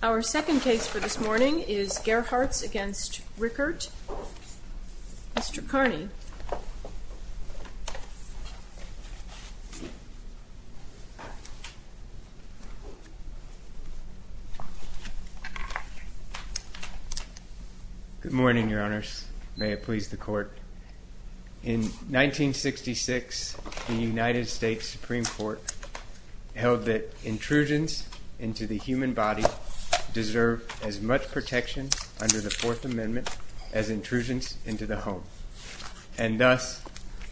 Our second case for this morning is Gerhartz v. Richert. Mr. Kearney. Mr. Kearney Good morning, your honors. May it please the court. In 1966, the United States Supreme Court held that intrusions into the human body deserve as much protection under the Fourth Amendment as intrusions into the home. And thus,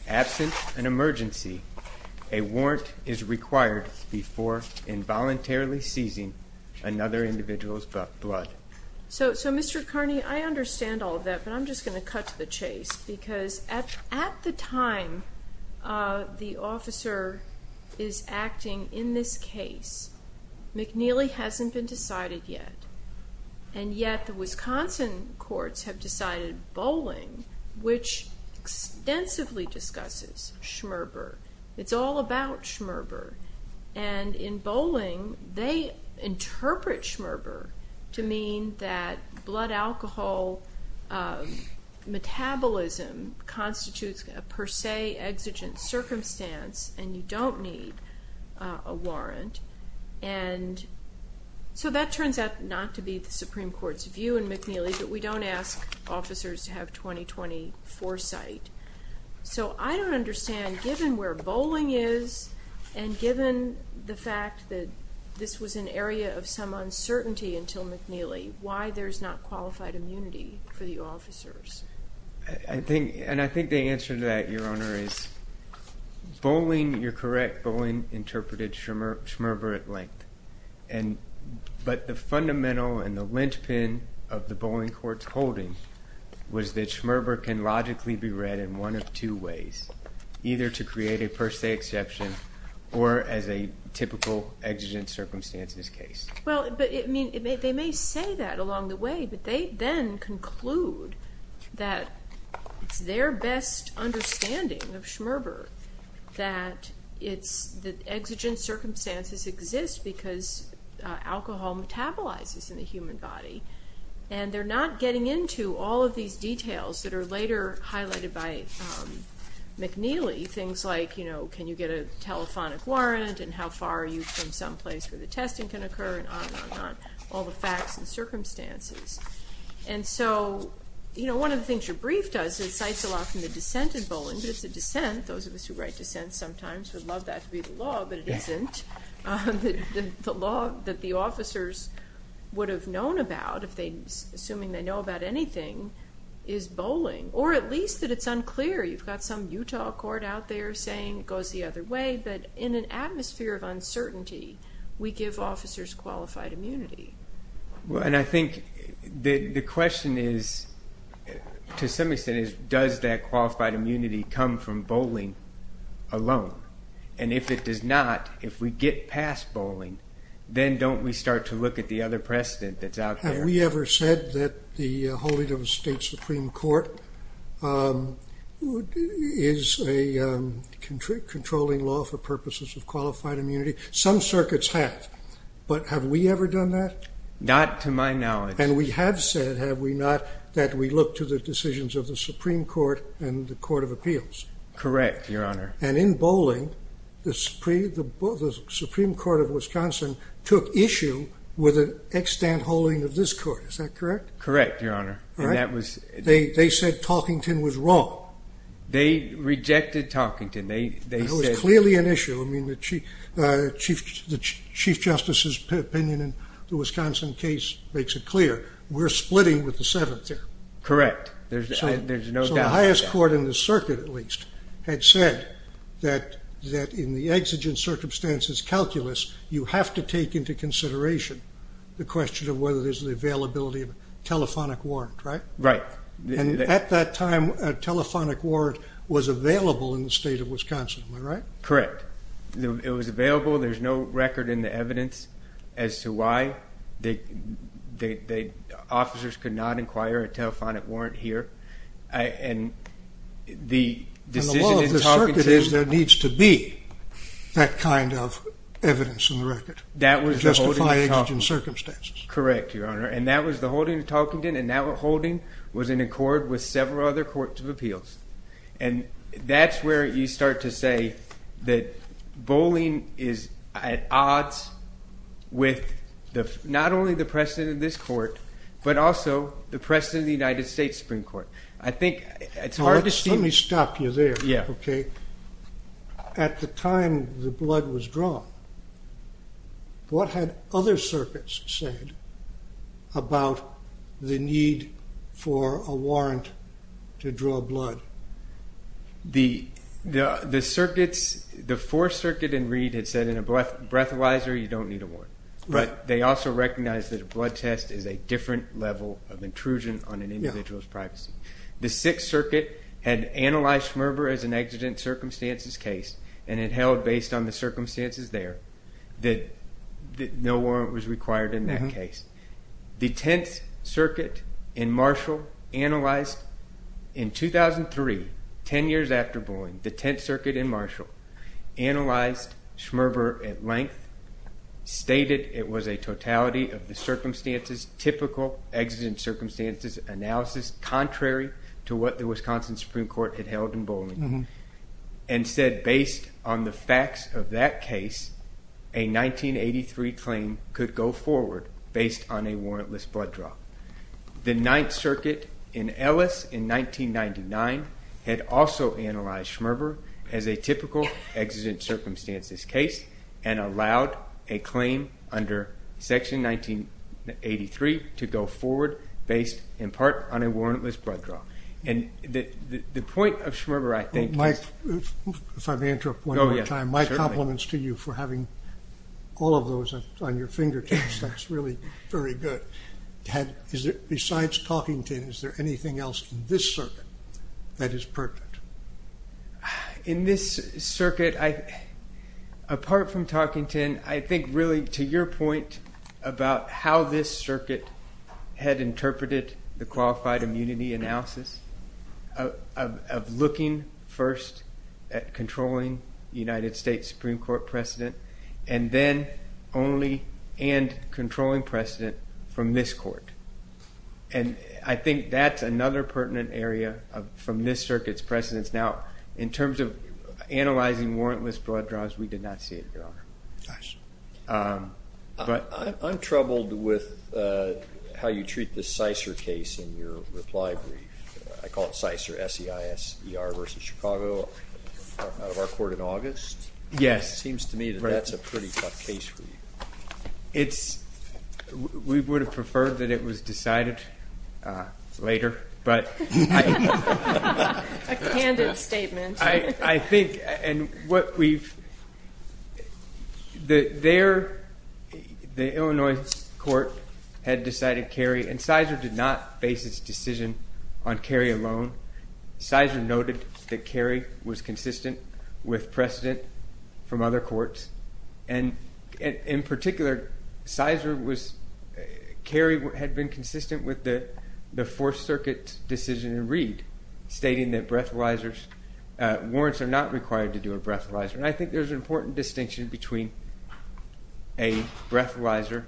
absent an emergency, a warrant is required before involuntarily seizing another individual's blood. So, Mr. Kearney, I understand all of that, but I'm just going to cut to the chase. Because at the time the officer is acting in this case, McNeely hasn't been decided yet. And yet the Wisconsin courts have decided Bolling, which extensively discusses schmerber. It's all about schmerber. And in Bolling, they interpret schmerber to mean that blood alcohol metabolism constitutes a per se exigent circumstance and you don't need a warrant. And so that turns out not to be the Supreme Court's view in McNeely, but we don't ask officers to have 20-20 foresight. So I don't understand, given where Bolling is and given the fact that this was an area of some uncertainty until McNeely, why there's not qualified immunity for the officers. I think, and I think the answer to that, your honor, is Bolling, you're correct, Bolling interpreted schmerber at length. But the fundamental and the linchpin of the Bolling court's holding was that schmerber can logically be read in one of two ways. Either to create a per se exception or as a typical exigent circumstances case. Well, but they may say that along the way, but they then conclude that it's their best understanding of schmerber that exigent circumstances exist because alcohol metabolizes in the human body. And they're not getting into all of these details that are later highlighted by McNeely. Things like, you know, can you get a telephonic warrant and how far are you from some place where the testing can occur and on and on and on. All the facts and circumstances. And so, you know, one of the things your brief does is cites a lot from the dissent in Bolling, but it's a dissent, those of us who write dissents sometimes would love that to be the law, but it isn't. The law that the officers would have known about if they, assuming they know about anything, is Bolling. Or at least that it's unclear. You've got some Utah court out there saying it goes the other way, but in an atmosphere of uncertainty, we give officers qualified immunity. Well, and I think the question is, to some extent, is does that qualified immunity come from Bolling alone? And if it does not, if we get past Bolling, then don't we start to look at the other precedent that's out there? Have we ever said that the holding of a state Supreme Court is a controlling law for purposes of qualified immunity? Some circuits have, but have we ever done that? Not to my knowledge. And we have said, have we not, that we look to the decisions of the Supreme Court and the Court of Appeals? Correct, Your Honor. And in Bolling, the Supreme Court of Wisconsin took issue with an extant holding of this court, is that correct? Correct, Your Honor. All right. And that was... They said Talkington was wrong. They rejected Talkington. They said... Well, that would be an issue. I mean, the Chief Justice's opinion in the Wisconsin case makes it clear. We're splitting with the Seventh there. Correct. There's no doubt about that. So the highest court in the circuit, at least, had said that in the exigent circumstances calculus, you have to take into consideration the question of whether there's the availability of a telephonic warrant, right? Right. And at that time, a telephonic warrant was available in the state of Wisconsin, am I correct? Correct. It was available. There's no record in the evidence as to why. Officers could not inquire a telephonic warrant here. And the decision in Talkington... And the law of the circuit is there needs to be that kind of evidence in the record to justify exigent circumstances. That was the holding of Talkington. Correct, Your Honor. And that was the holding of Talkington. And that holding was in accord with several other courts of appeals. And that's where you start to say that bowling is at odds with not only the precedent of this court, but also the precedent of the United States Supreme Court. I think it's hard to see... Let me stop you there, okay? At the time the blood was drawn, what had other circuits said about the need for a warrant to draw blood? The circuits... The Fourth Circuit in Reed had said in a breathalyzer, you don't need a warrant. But they also recognized that a blood test is a different level of intrusion on an individual's privacy. The Sixth Circuit had analyzed Schmerber as an exigent circumstances case and it held based on the circumstances there that no warrant was required in that case. The Tenth Circuit in Marshall analyzed... In 2003, 10 years after bowling, the Tenth Circuit in Marshall analyzed Schmerber at length, stated it was a totality of the circumstances, typical exigent circumstances analysis, contrary to what the Wisconsin Supreme Court had held in bowling, and said based on the facts of that case, a 1983 claim could go forward. Based on a warrantless blood draw. The Ninth Circuit in Ellis in 1999 had also analyzed Schmerber as a typical exigent circumstances case and allowed a claim under Section 1983 to go forward based in part on a warrantless blood draw. And the point of Schmerber I think... If I may interrupt one more time, my compliments to you for having all of those on your fingertips. That's really very good. Is there, besides Talkington, is there anything else in this circuit that is pertinent? In this circuit, apart from Talkington, I think really to your point about how this circuit had interpreted the qualified immunity analysis of looking first at controlling the United States Supreme Court precedent, and then only and controlling precedent from this court. And I think that's another pertinent area from this circuit's precedence. Now, in terms of analyzing warrantless blood draws, we did not see it, Your Honor. I'm troubled with how you treat the Cicer case in your reply brief. I call it Cicer, S-E-I-S-E-R versus Chicago, out of our court in August. Yes. It seems to me that that's a pretty tough case for you. It's... We would have preferred that it was decided later, but... A candid statement. I think... And what we've... There, the Illinois court had decided Cary, and Cicer did not face its decision on Cary alone. Cicer noted that Cary was consistent with precedent from other courts, and in particular, Cicer was... Cary had been consistent with the Fourth Circuit decision in Reed, stating that breathalyzers... Warrants are not required to do a breathalyzer. And I think there's an important distinction between a breathalyzer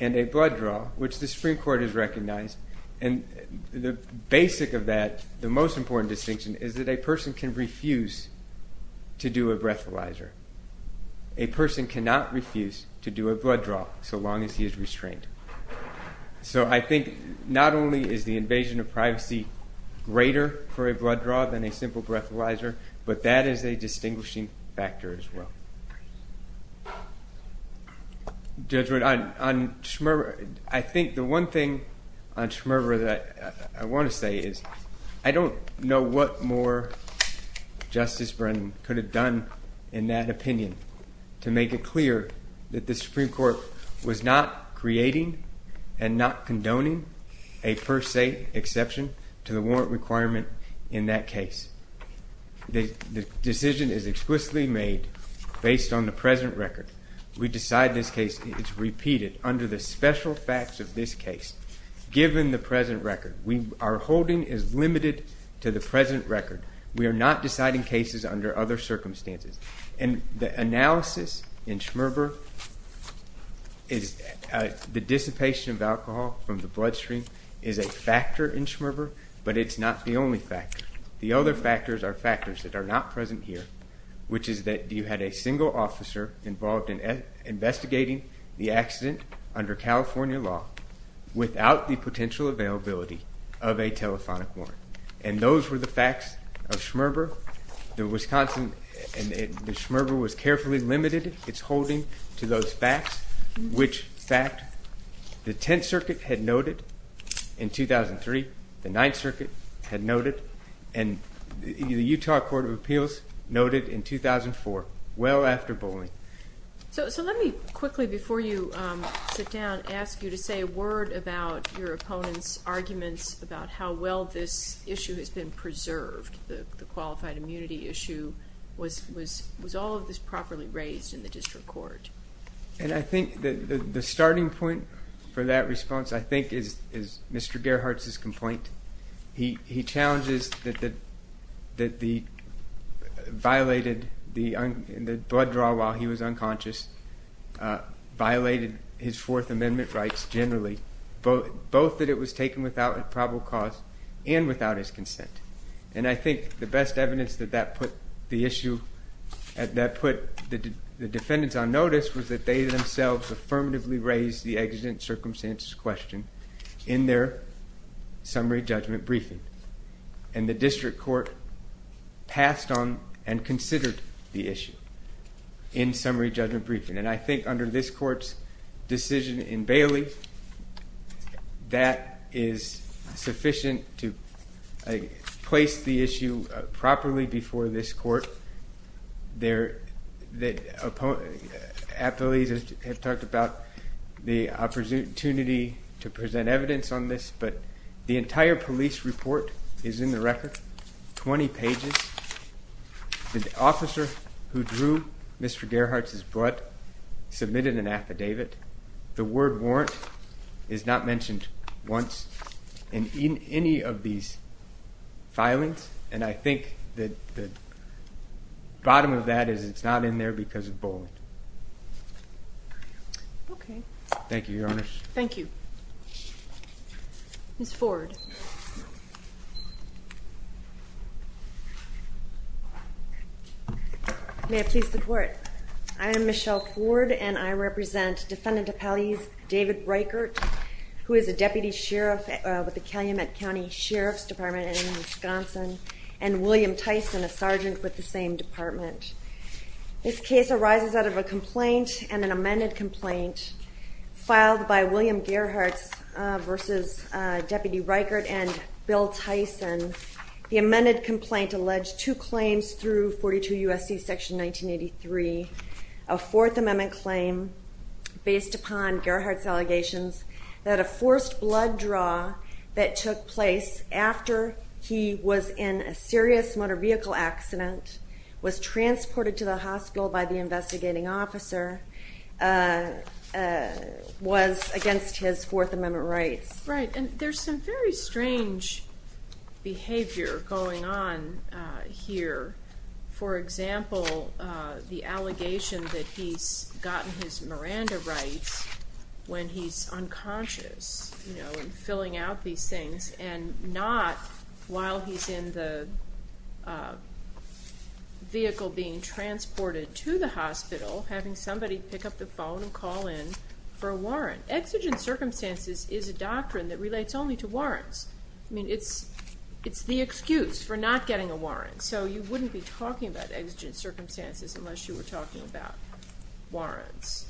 and a blood draw, which the Supreme Court has recognized. And the basic of that, the most important distinction, is that a person can refuse to do a breathalyzer. A person cannot refuse to do a blood draw so long as he is restrained. So I think not only is the invasion of privacy greater for a blood draw than a simple breathalyzer, but that is a case... On Schmerber, I think the one thing on Schmerber that I wanna say is, I don't know what more Justice Brennan could have done in that opinion to make it clear that the Supreme Court was not creating and not condoning a first state exception to the warrant requirement in that case. The decision is explicitly made based on the present record. We decide this case... It's repeated under the special facts of this case, given the present record. Our holding is limited to the present record. We are not deciding cases under other circumstances. And the analysis in Schmerber is... The dissipation of alcohol from the bloodstream is a factor in Schmerber, but it's not the only factor. The other factors that are not present here, which is that you had a single officer involved in investigating the accident under California law without the potential availability of a telephonic warrant. And those were the facts of Schmerber. The Wisconsin... Schmerber was carefully limited its holding to those facts, which fact the Tenth Circuit had noted in 2003, the Ninth Circuit, the Utah Court of Appeals noted in 2004, well after bullying. So let me quickly, before you sit down, ask you to say a word about your opponent's arguments about how well this issue has been preserved, the qualified immunity issue. Was all of this properly raised in the district court? And I think the starting point for that response, I think, is Mr. Gerhardt's complaint. He challenges that the violated... The blood draw while he was unconscious violated his Fourth Amendment rights generally, both that it was taken without probable cause and without his consent. And I think the best evidence that that put the issue... That put the defendants on notice was that they themselves affirmatively raised the accident circumstances question in their summary judgment briefing. And the district court passed on and considered the issue in summary judgment briefing. And I think under this court's decision in Bailey, that is sufficient to place the issue properly before this court. There... The appellees have talked about the opportunity to present evidence on this, but the entire police report is in the record, 20 pages. The officer who drew Mr. Gerhardt's blood submitted an affidavit. The word warrant is not mentioned once in any of these filings. And I think that the bottom of that is it's not in there because of bullying. Okay. Thank you, Your Honor. Thank you. Ms. Ford. May it please the court. I am Michelle Ford and I represent Defendant Appellees David Reichert, who is a Deputy Sheriff with the Calumet County Sheriff's Department in Wisconsin, and William Tyson, a Sergeant with the same department. This case arises out of a complaint and an amended complaint filed by William Gerhardt versus Deputy Reichert and Bill Tyson. The amended complaint alleged two claims through 42 U.S.C. Section 1983, a Fourth Amendment claim based upon Gerhardt's allegations that a forced blood draw that took place after he was in a serious motor vehicle accident was transported to the hospital by the investigating officer, was against his Fourth Amendment rights. Right. And there's some very strange behavior going on here. For example, the allegation that he's gotten his Miranda rights when he's unconscious, you know, and filling out these things, and not while he's in the vehicle being transported to the hospital having somebody pick up the phone and call in for a warrant. Exigent circumstances is a doctrine that relates only to warrants. I mean, it's the excuse for not getting a warrant. So you wouldn't be talking about exigent circumstances unless you were talking about warrants.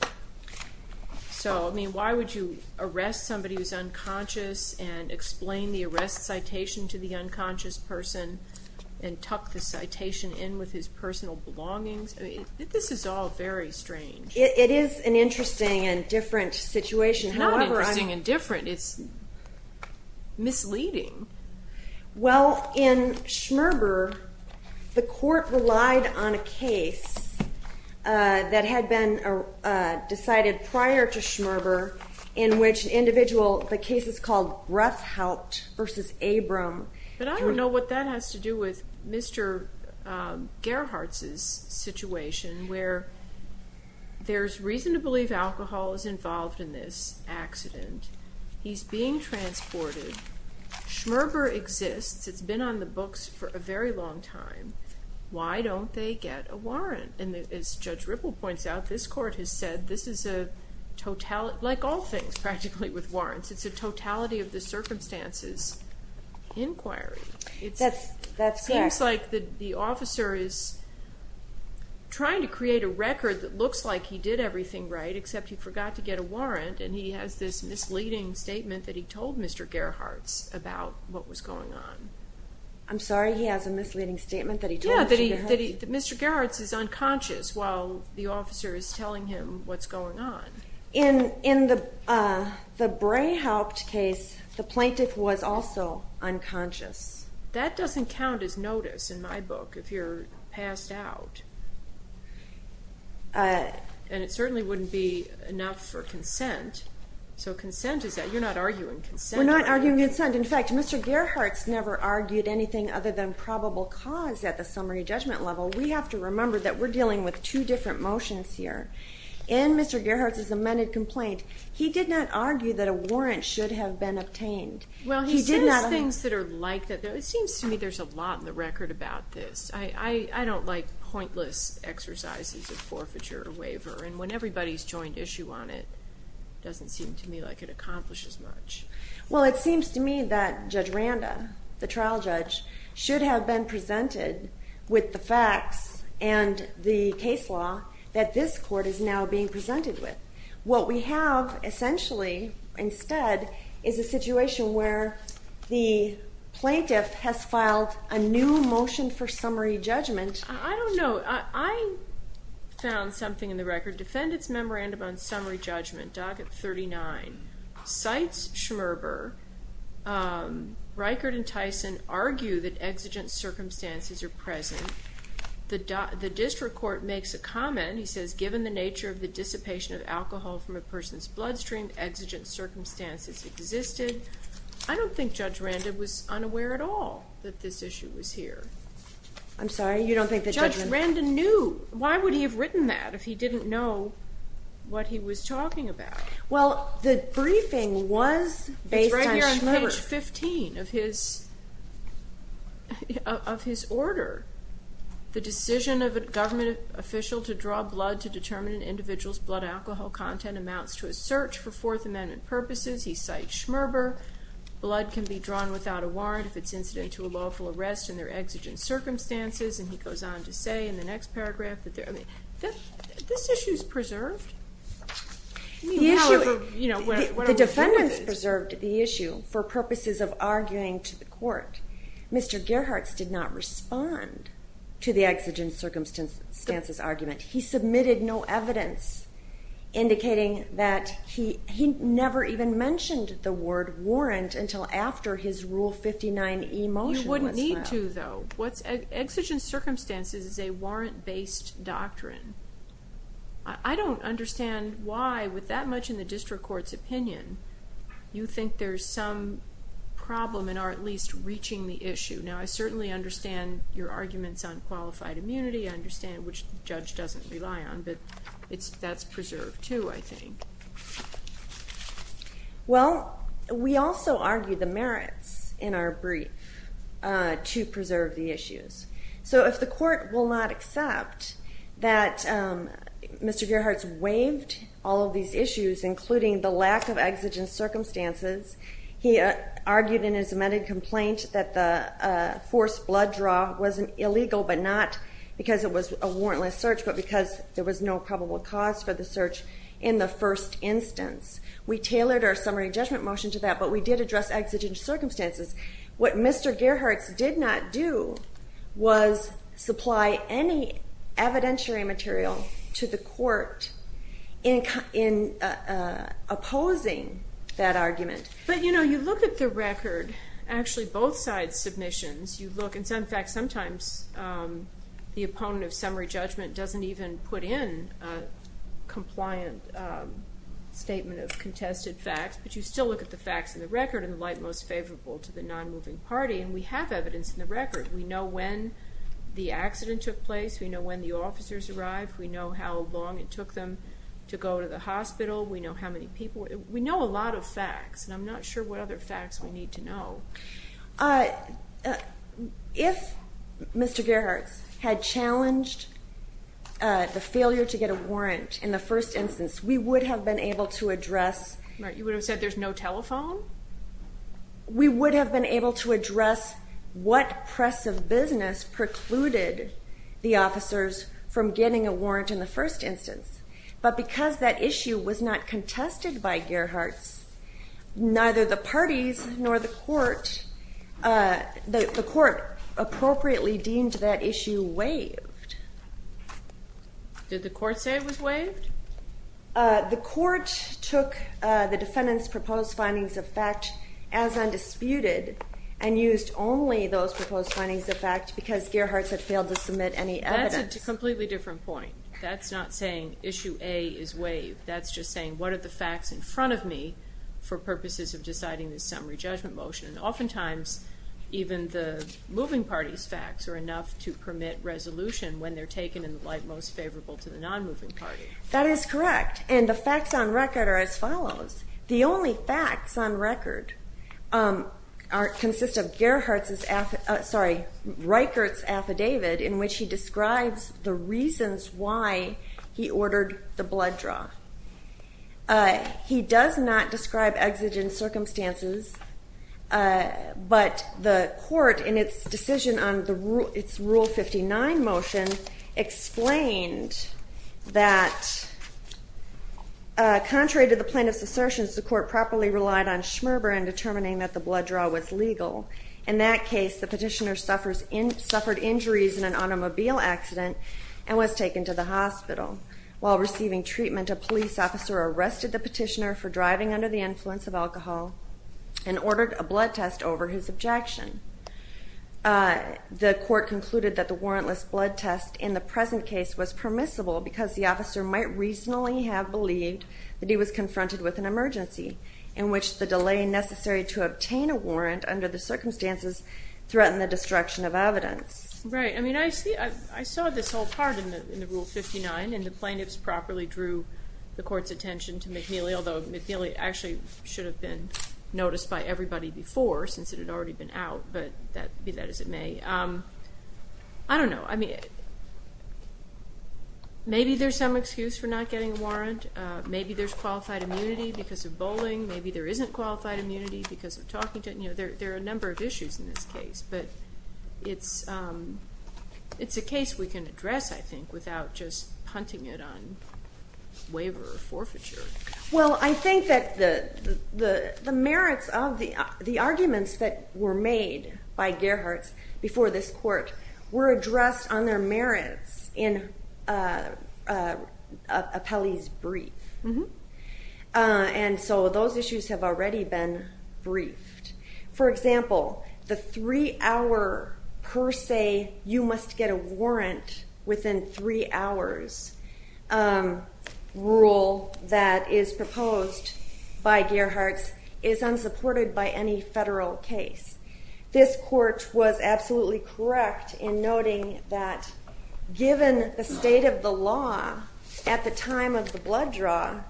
So, I mean, why would you arrest somebody who's unconscious and explain the arrest citation to the unconscious person and tuck the citation in with his personal belongings? I mean, this is all very strange. It is an interesting and different situation. It's not interesting and different. It's misleading. Well, in Schmerber, the court relied on a case that had been decided prior to Schmerber in which an individual, the case is called Ruffhout v. Abram. But I don't know what that has to do with Mr. Gerhart's situation where there's reason to believe alcohol is involved in this accident. He's being transported. Schmerber exists. It's been on the books for a very long time. Why don't they get a warrant? And as Judge Ripple points out, this court has said this is a totality, like all things practically with warrants, it's a totality of the circumstances inquiry. That's correct. It seems like the officer is trying to create a record that looks like he did everything right except he forgot to get a warrant and he has this misleading statement that he told Mr. Gerhart's about what was going on. I'm sorry? He has a misleading statement that he told Mr. Gerhart's? Yeah, that Mr. Gerhart's unconscious while the officer is telling him what's going on. In the Brayhaupt case, the plaintiff was also unconscious. That doesn't count as notice in my book if you're passed out. And it certainly wouldn't be enough for consent. So consent is, you're not arguing consent. We're not arguing consent. In fact, Mr. Gerhart's never argued anything other than probable cause at the summary judgment level. We have to remember that we're dealing with two different motions here. In Mr. Gerhart's amended complaint, he did not argue that a warrant should have been obtained. Well, he says things that are like that. It seems to me there's a lot in the record about this. I don't like pointless exercises of forfeiture or waiver. And when everybody's joined issue on it, it doesn't seem to me like it accomplishes much. Well, it seems to me that Judge Randa, the trial judge, should have been presented with the facts and the case law that this court is now being presented with. What we have, essentially, instead, is a situation where the plaintiff has filed a new motion for summary judgment. I don't know. I found something in the record. Defendant's memorandum on summary judgment, docket 39, cites Schmerber. Reichert and Tyson argue that exigent circumstances are present. The district court makes a comment. He says, given the nature of the dissipation of alcohol from a person's bloodstream, exigent circumstances existed. I don't think Judge Randa was unaware at all that this issue was here. I'm sorry? You don't think that Judge Randa knew? Why would he have written that if he didn't know what he was talking about? Well, the briefing was based on Schmerber. It's right here on page 15 of his order. The decision of a government official to draw blood to determine an individual's blood alcohol content amounts to a search for Fourth Amendment purposes. He cites Schmerber. Blood can be drawn without a warrant if it's incident to a lawful arrest in their exigent circumstances. And he goes on to say in the next paragraph that they're, I mean, this issue is preserved? The defendants preserved the issue for purposes of arguing to the court. Mr. Gerhartz did not respond to the exigent circumstances argument. He submitted no evidence indicating that he never even mentioned the word warrant until after his Rule 59e motion was filed. Exigent circumstances is a warrant-based doctrine. I don't understand why, with that much in the district court's opinion, you think there's some problem in our at least reaching the issue. Now, I certainly understand your arguments on qualified immunity. I understand, which the judge doesn't rely on, but that's preserved too, I think. Well, we also argue the merits in our brief to preserve the issues. So if the court will not accept that Mr. Gerhartz waived all of these issues, including the lack of exigent circumstances, he argued in his amended complaint that the forced blood draw was illegal, but not because it was a warrantless search, but because there was no probable cause for the forced instance. We tailored our summary judgment motion to that, but we did address exigent circumstances. What Mr. Gerhartz did not do was supply any evidentiary material to the court in opposing that argument. But, you know, you look at the record, actually both sides' submissions, you look, in fact, sometimes the opponent of summary judgment doesn't even put in a compliant statement of contested facts, but you still look at the facts of the record in the light most favorable to the non-moving party, and we have evidence in the record. We know when the accident took place. We know when the officers arrived. We know how long it took them to go to the hospital. We know how many people. We know a lot of facts, and I'm not sure what other facts we need to know. If Mr. Gerhartz had challenged the failure to get a warrant in the first instance, we would have been able to address... Right. You would have said there's no telephone? We would have been able to address what press of business precluded the officers from getting a warrant in the first instance, but because that issue was not contested by Gerhartz, neither the parties nor the court, the court appropriately deemed that issue waived. Did the court say it was waived? The court took the defendant's proposed findings of fact as undisputed and used only those proposed findings of fact because Gerhartz had failed to submit any evidence. That's a completely different point. That's not saying issue A is waived. That's just saying, what are the facts in front of me for purposes of deciding this summary judgment motion? Oftentimes, even the moving party's facts are enough to permit resolution when they're taken in the light most favorable to the non-moving party. That is correct, and the facts on record are as follows. The only facts on record consist of Gerhartz's, sorry, Reichert's affidavit in which he describes the reasons why he ordered the blood draw. He does not describe exigent circumstances, but the court in its decision on its Rule 59 motion explained that contrary to the plaintiff's assertions, the court properly relied on Schmerber and determining that the blood draw was legal. In that case, the petitioner suffered injuries in an automobile accident and was taken to the hospital. While receiving treatment, a police officer arrested the petitioner for driving under the influence of alcohol and ordered a blood test over his objection. The court concluded that the warrantless blood test in the present case was permissible because the officer might reasonably have believed that he was confronted with an emergency in which the delay necessary to obtain a warrant under the circumstances threatened the destruction of evidence. Right. I mean, I saw this whole part in the Rule 59, and the plaintiffs properly drew the court's attention to McNeely, although McNeely actually should have been noticed by everybody before since it had already been out, but be that as it may. I don't know. Maybe there's some excuse for not getting a warrant. Maybe there's qualified immunity because of bowling. Maybe there isn't qualified immunity because of talking to... There are a number of issues in this case, but it's a case we can address, I think, without just punting it on waiver or forfeiture. Well, I think that the arguments that were made by Gerharts before this court were addressed on their merits in Apelli's brief, and so those issues have already been briefed. For example, the three-hour per se, you must get a warrant within three hours rule that is proposed by Gerharts is unsupported by any federal case. This court was absolutely correct in noting that, given the state of the law at the time of the blood draw,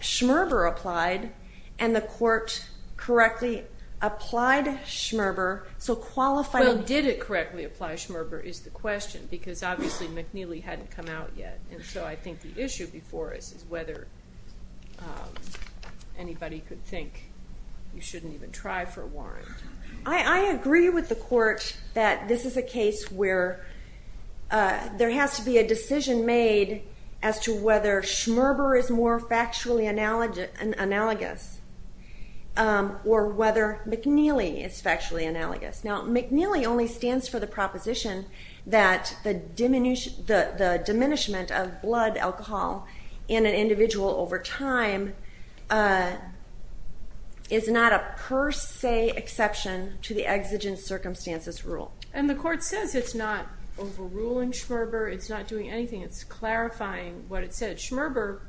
Schmerber applied, and the court correctly applied Schmerber, so qualifying... Well, did it correctly apply Schmerber is the question because, obviously, McNeely hadn't come out yet, and so I think the issue before us is whether anybody could think that Schmerber you shouldn't even try for a warrant. I agree with the court that this is a case where there has to be a decision made as to whether Schmerber is more factually analogous or whether McNeely is factually analogous. Now, McNeely only stands for the proposition that the diminishment of blood alcohol in an individual over time is not a per se exception to the exigent circumstances rule. And the court says it's not overruling Schmerber, it's not doing anything, it's clarifying what it said. Schmerber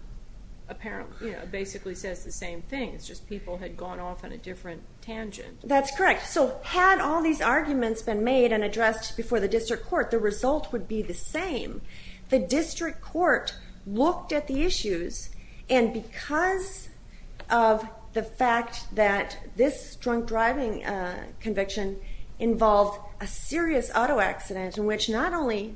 apparently basically says the same thing, it's just people had gone off on a different tangent. That's correct. So had all these arguments been made and addressed before the district court, the result would be the same. The district court looked at the issues, and because of the fact that this drunk driving conviction involved a serious auto accident in which not only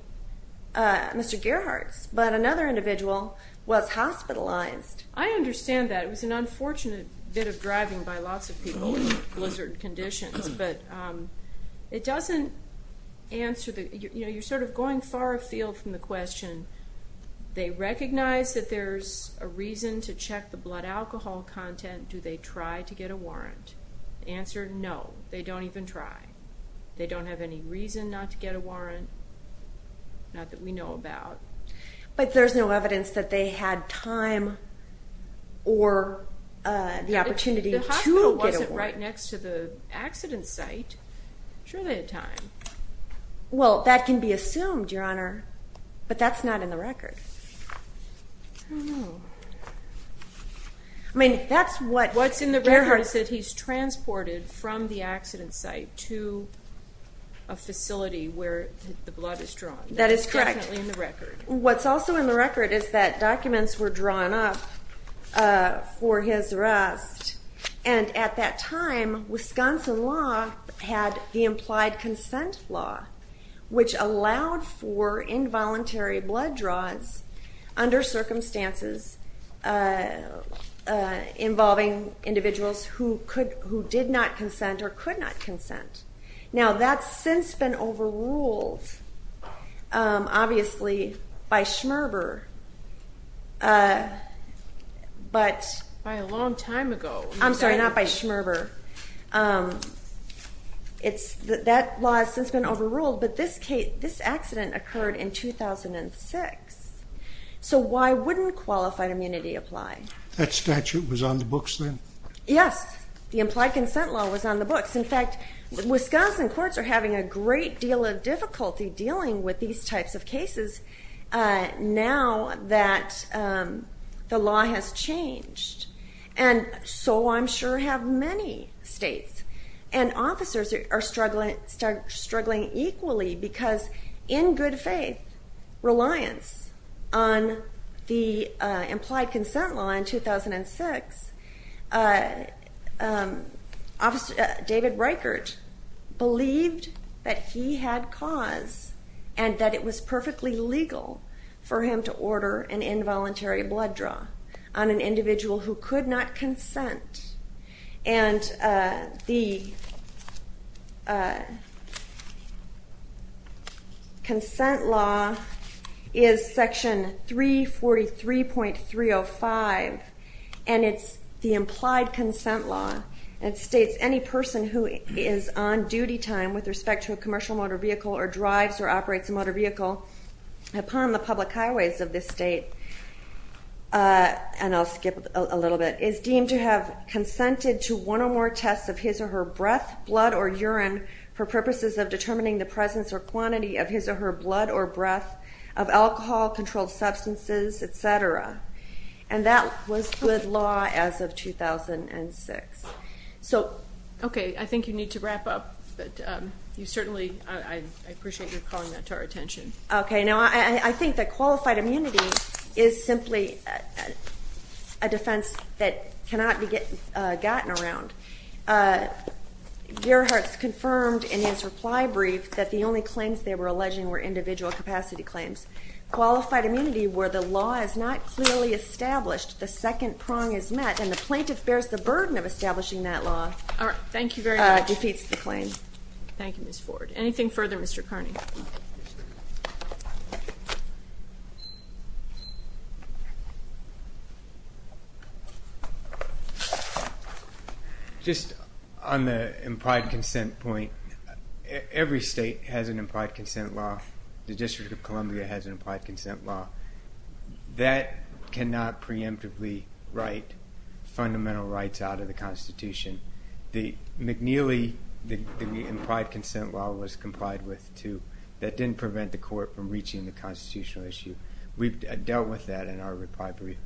Mr. Gerhart's, but another individual was hospitalized. I understand that. It was an unfortunate bit of driving by lots of people in blizzard conditions, but it doesn't answer the, you know, you're sort of going far afield from the question. They recognize that there's a reason to check the blood alcohol content, do they try to get a warrant? The answer, no, they don't even try. They don't have any reason not to get a warrant, not that we know about. But there's no evidence that they had time or the opportunity to get a warrant. Well, that can be assumed, Your Honor, but that's not in the record. What's in the record is that he's transported from the accident site to a facility where the blood is drawn. That is definitely in the record. What's also in the record is that documents were drawn up for his arrest, and at that time Wisconsin law had the implied consent law, which allowed for involuntary blood draws under circumstances involving individuals who did not consent or could not consent. Now that's since been overruled, obviously, by Schmerber, but... By a long time ago. I'm sorry, not by Schmerber. That law has since been overruled, but this accident occurred in 2006, so why wouldn't qualified immunity apply? That statute was on the books then? Yes, the implied consent law was on the books. In fact, Wisconsin courts are having a great deal of difficulty dealing with these types of cases now that the law has changed, and so I'm sure have many states. And officers are struggling equally because, in good faith, reliance on the implied consent law in 2006, David Reichert believed that he had cause and that it was perfectly legal for him to order an involuntary blood draw on an individual who could not consent, and the consent law is section 343.305 of the Wisconsin Code of Conduct. And it's the implied consent law that states any person who is on duty time with respect to a commercial motor vehicle or drives or operates a motor vehicle upon the public highways of this state, and I'll skip a little bit, is deemed to have consented to one or more tests of his or her breath, blood, or urine for purposes of determining the presence or quantity of his or her blood or breath, of alcohol, controlled substances, et cetera. And that was good law as of 2006. So... Okay, I think you need to wrap up, but you certainly, I appreciate your calling that to our attention. Okay. Now, I think that qualified immunity is simply a defense that cannot be gotten around. Gerhart's confirmed in his reply brief that the only claims they were alleging were individual capacity claims. Qualified immunity where the law is not clearly established, the second prong is met, and the plaintiff bears the burden of establishing that law. All right. Thank you very much. Defeats the claim. Thank you, Ms. Ford. Anything further, Mr. Carney? Just on the implied consent point, every state has an implied consent law. The District of Columbia has an implied consent law. That cannot preemptively write fundamental rights out of the Constitution. The McNeely, the implied consent law was complied with, too. That didn't prevent the court from reaching the constitutional issue. We've dealt with that in our reply brief.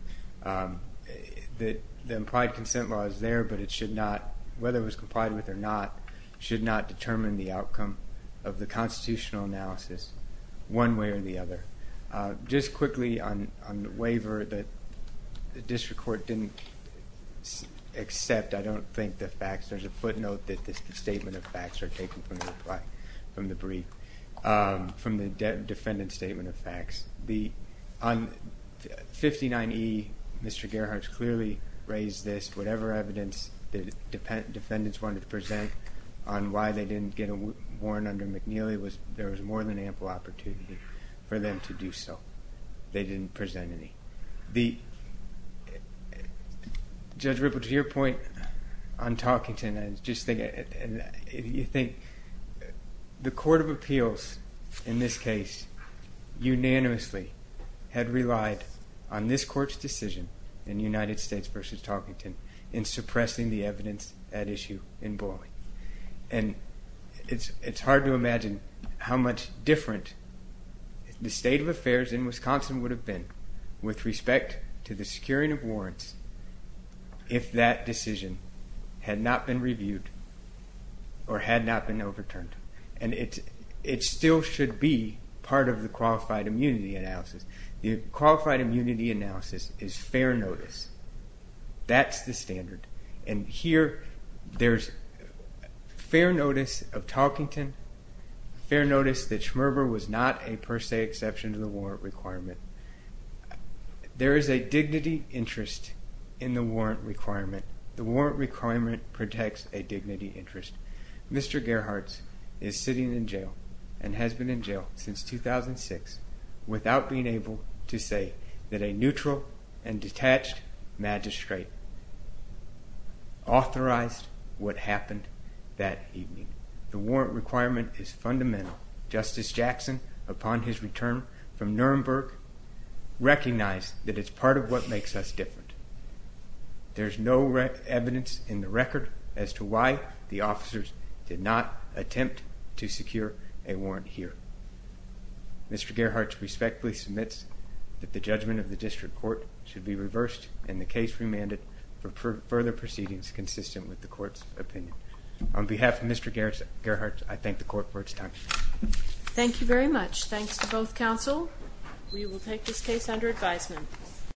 The implied consent law is there, but it should not, whether it was complied with or not, should not determine the outcome of the constitutional analysis one way or the other. Just quickly on the waiver, the district court didn't accept, I don't think, the facts. There's a footnote that the statement of facts are taken from the reply, from the brief, from the defendant's statement of facts. On 59E, Mr. Gerhart's clearly raised this. Whatever evidence the defendants wanted to present on why they didn't get a warrant under McNeely, there was more than ample opportunity for them to do so. They didn't present any. Judge Ripple, to your point on Talkington, you think the Court of Appeals, in this case, unanimously had relied on this Court's decision in United States v. Talkington in suppressing the evidence at issue in Boyle. It's hard to imagine how much different the state of affairs in Wisconsin would have been with respect to the securing of warrants if that decision had not been reviewed or had not been overturned. It still should be part of the Qualified Immunity Analysis. The Qualified Immunity Analysis is fair notice. That's the standard. Here, there's fair notice of Talkington, fair notice that Schmerber was not a per se exception to the warrant requirement. There is a dignity interest in the warrant requirement. The warrant requirement protects a dignity interest. Mr. Gerhards is sitting in jail and has been in jail since 2006 without being able to say that a neutral and detached magistrate authorized what happened that evening. The warrant requirement is fundamental. Justice Jackson, upon his return from Nuremberg, recognized that it's part of what makes us different. There's no evidence in the record as to why the officers did not attempt to secure a warrant here. Mr. Gerhards respectfully submits that the judgment of the district court should be reversed and the case remanded for further proceedings consistent with the court's opinion. On behalf of Mr. Gerhards, I thank the court for its time. Thank you very much. Thanks to both counsel. We will take this case under advisement.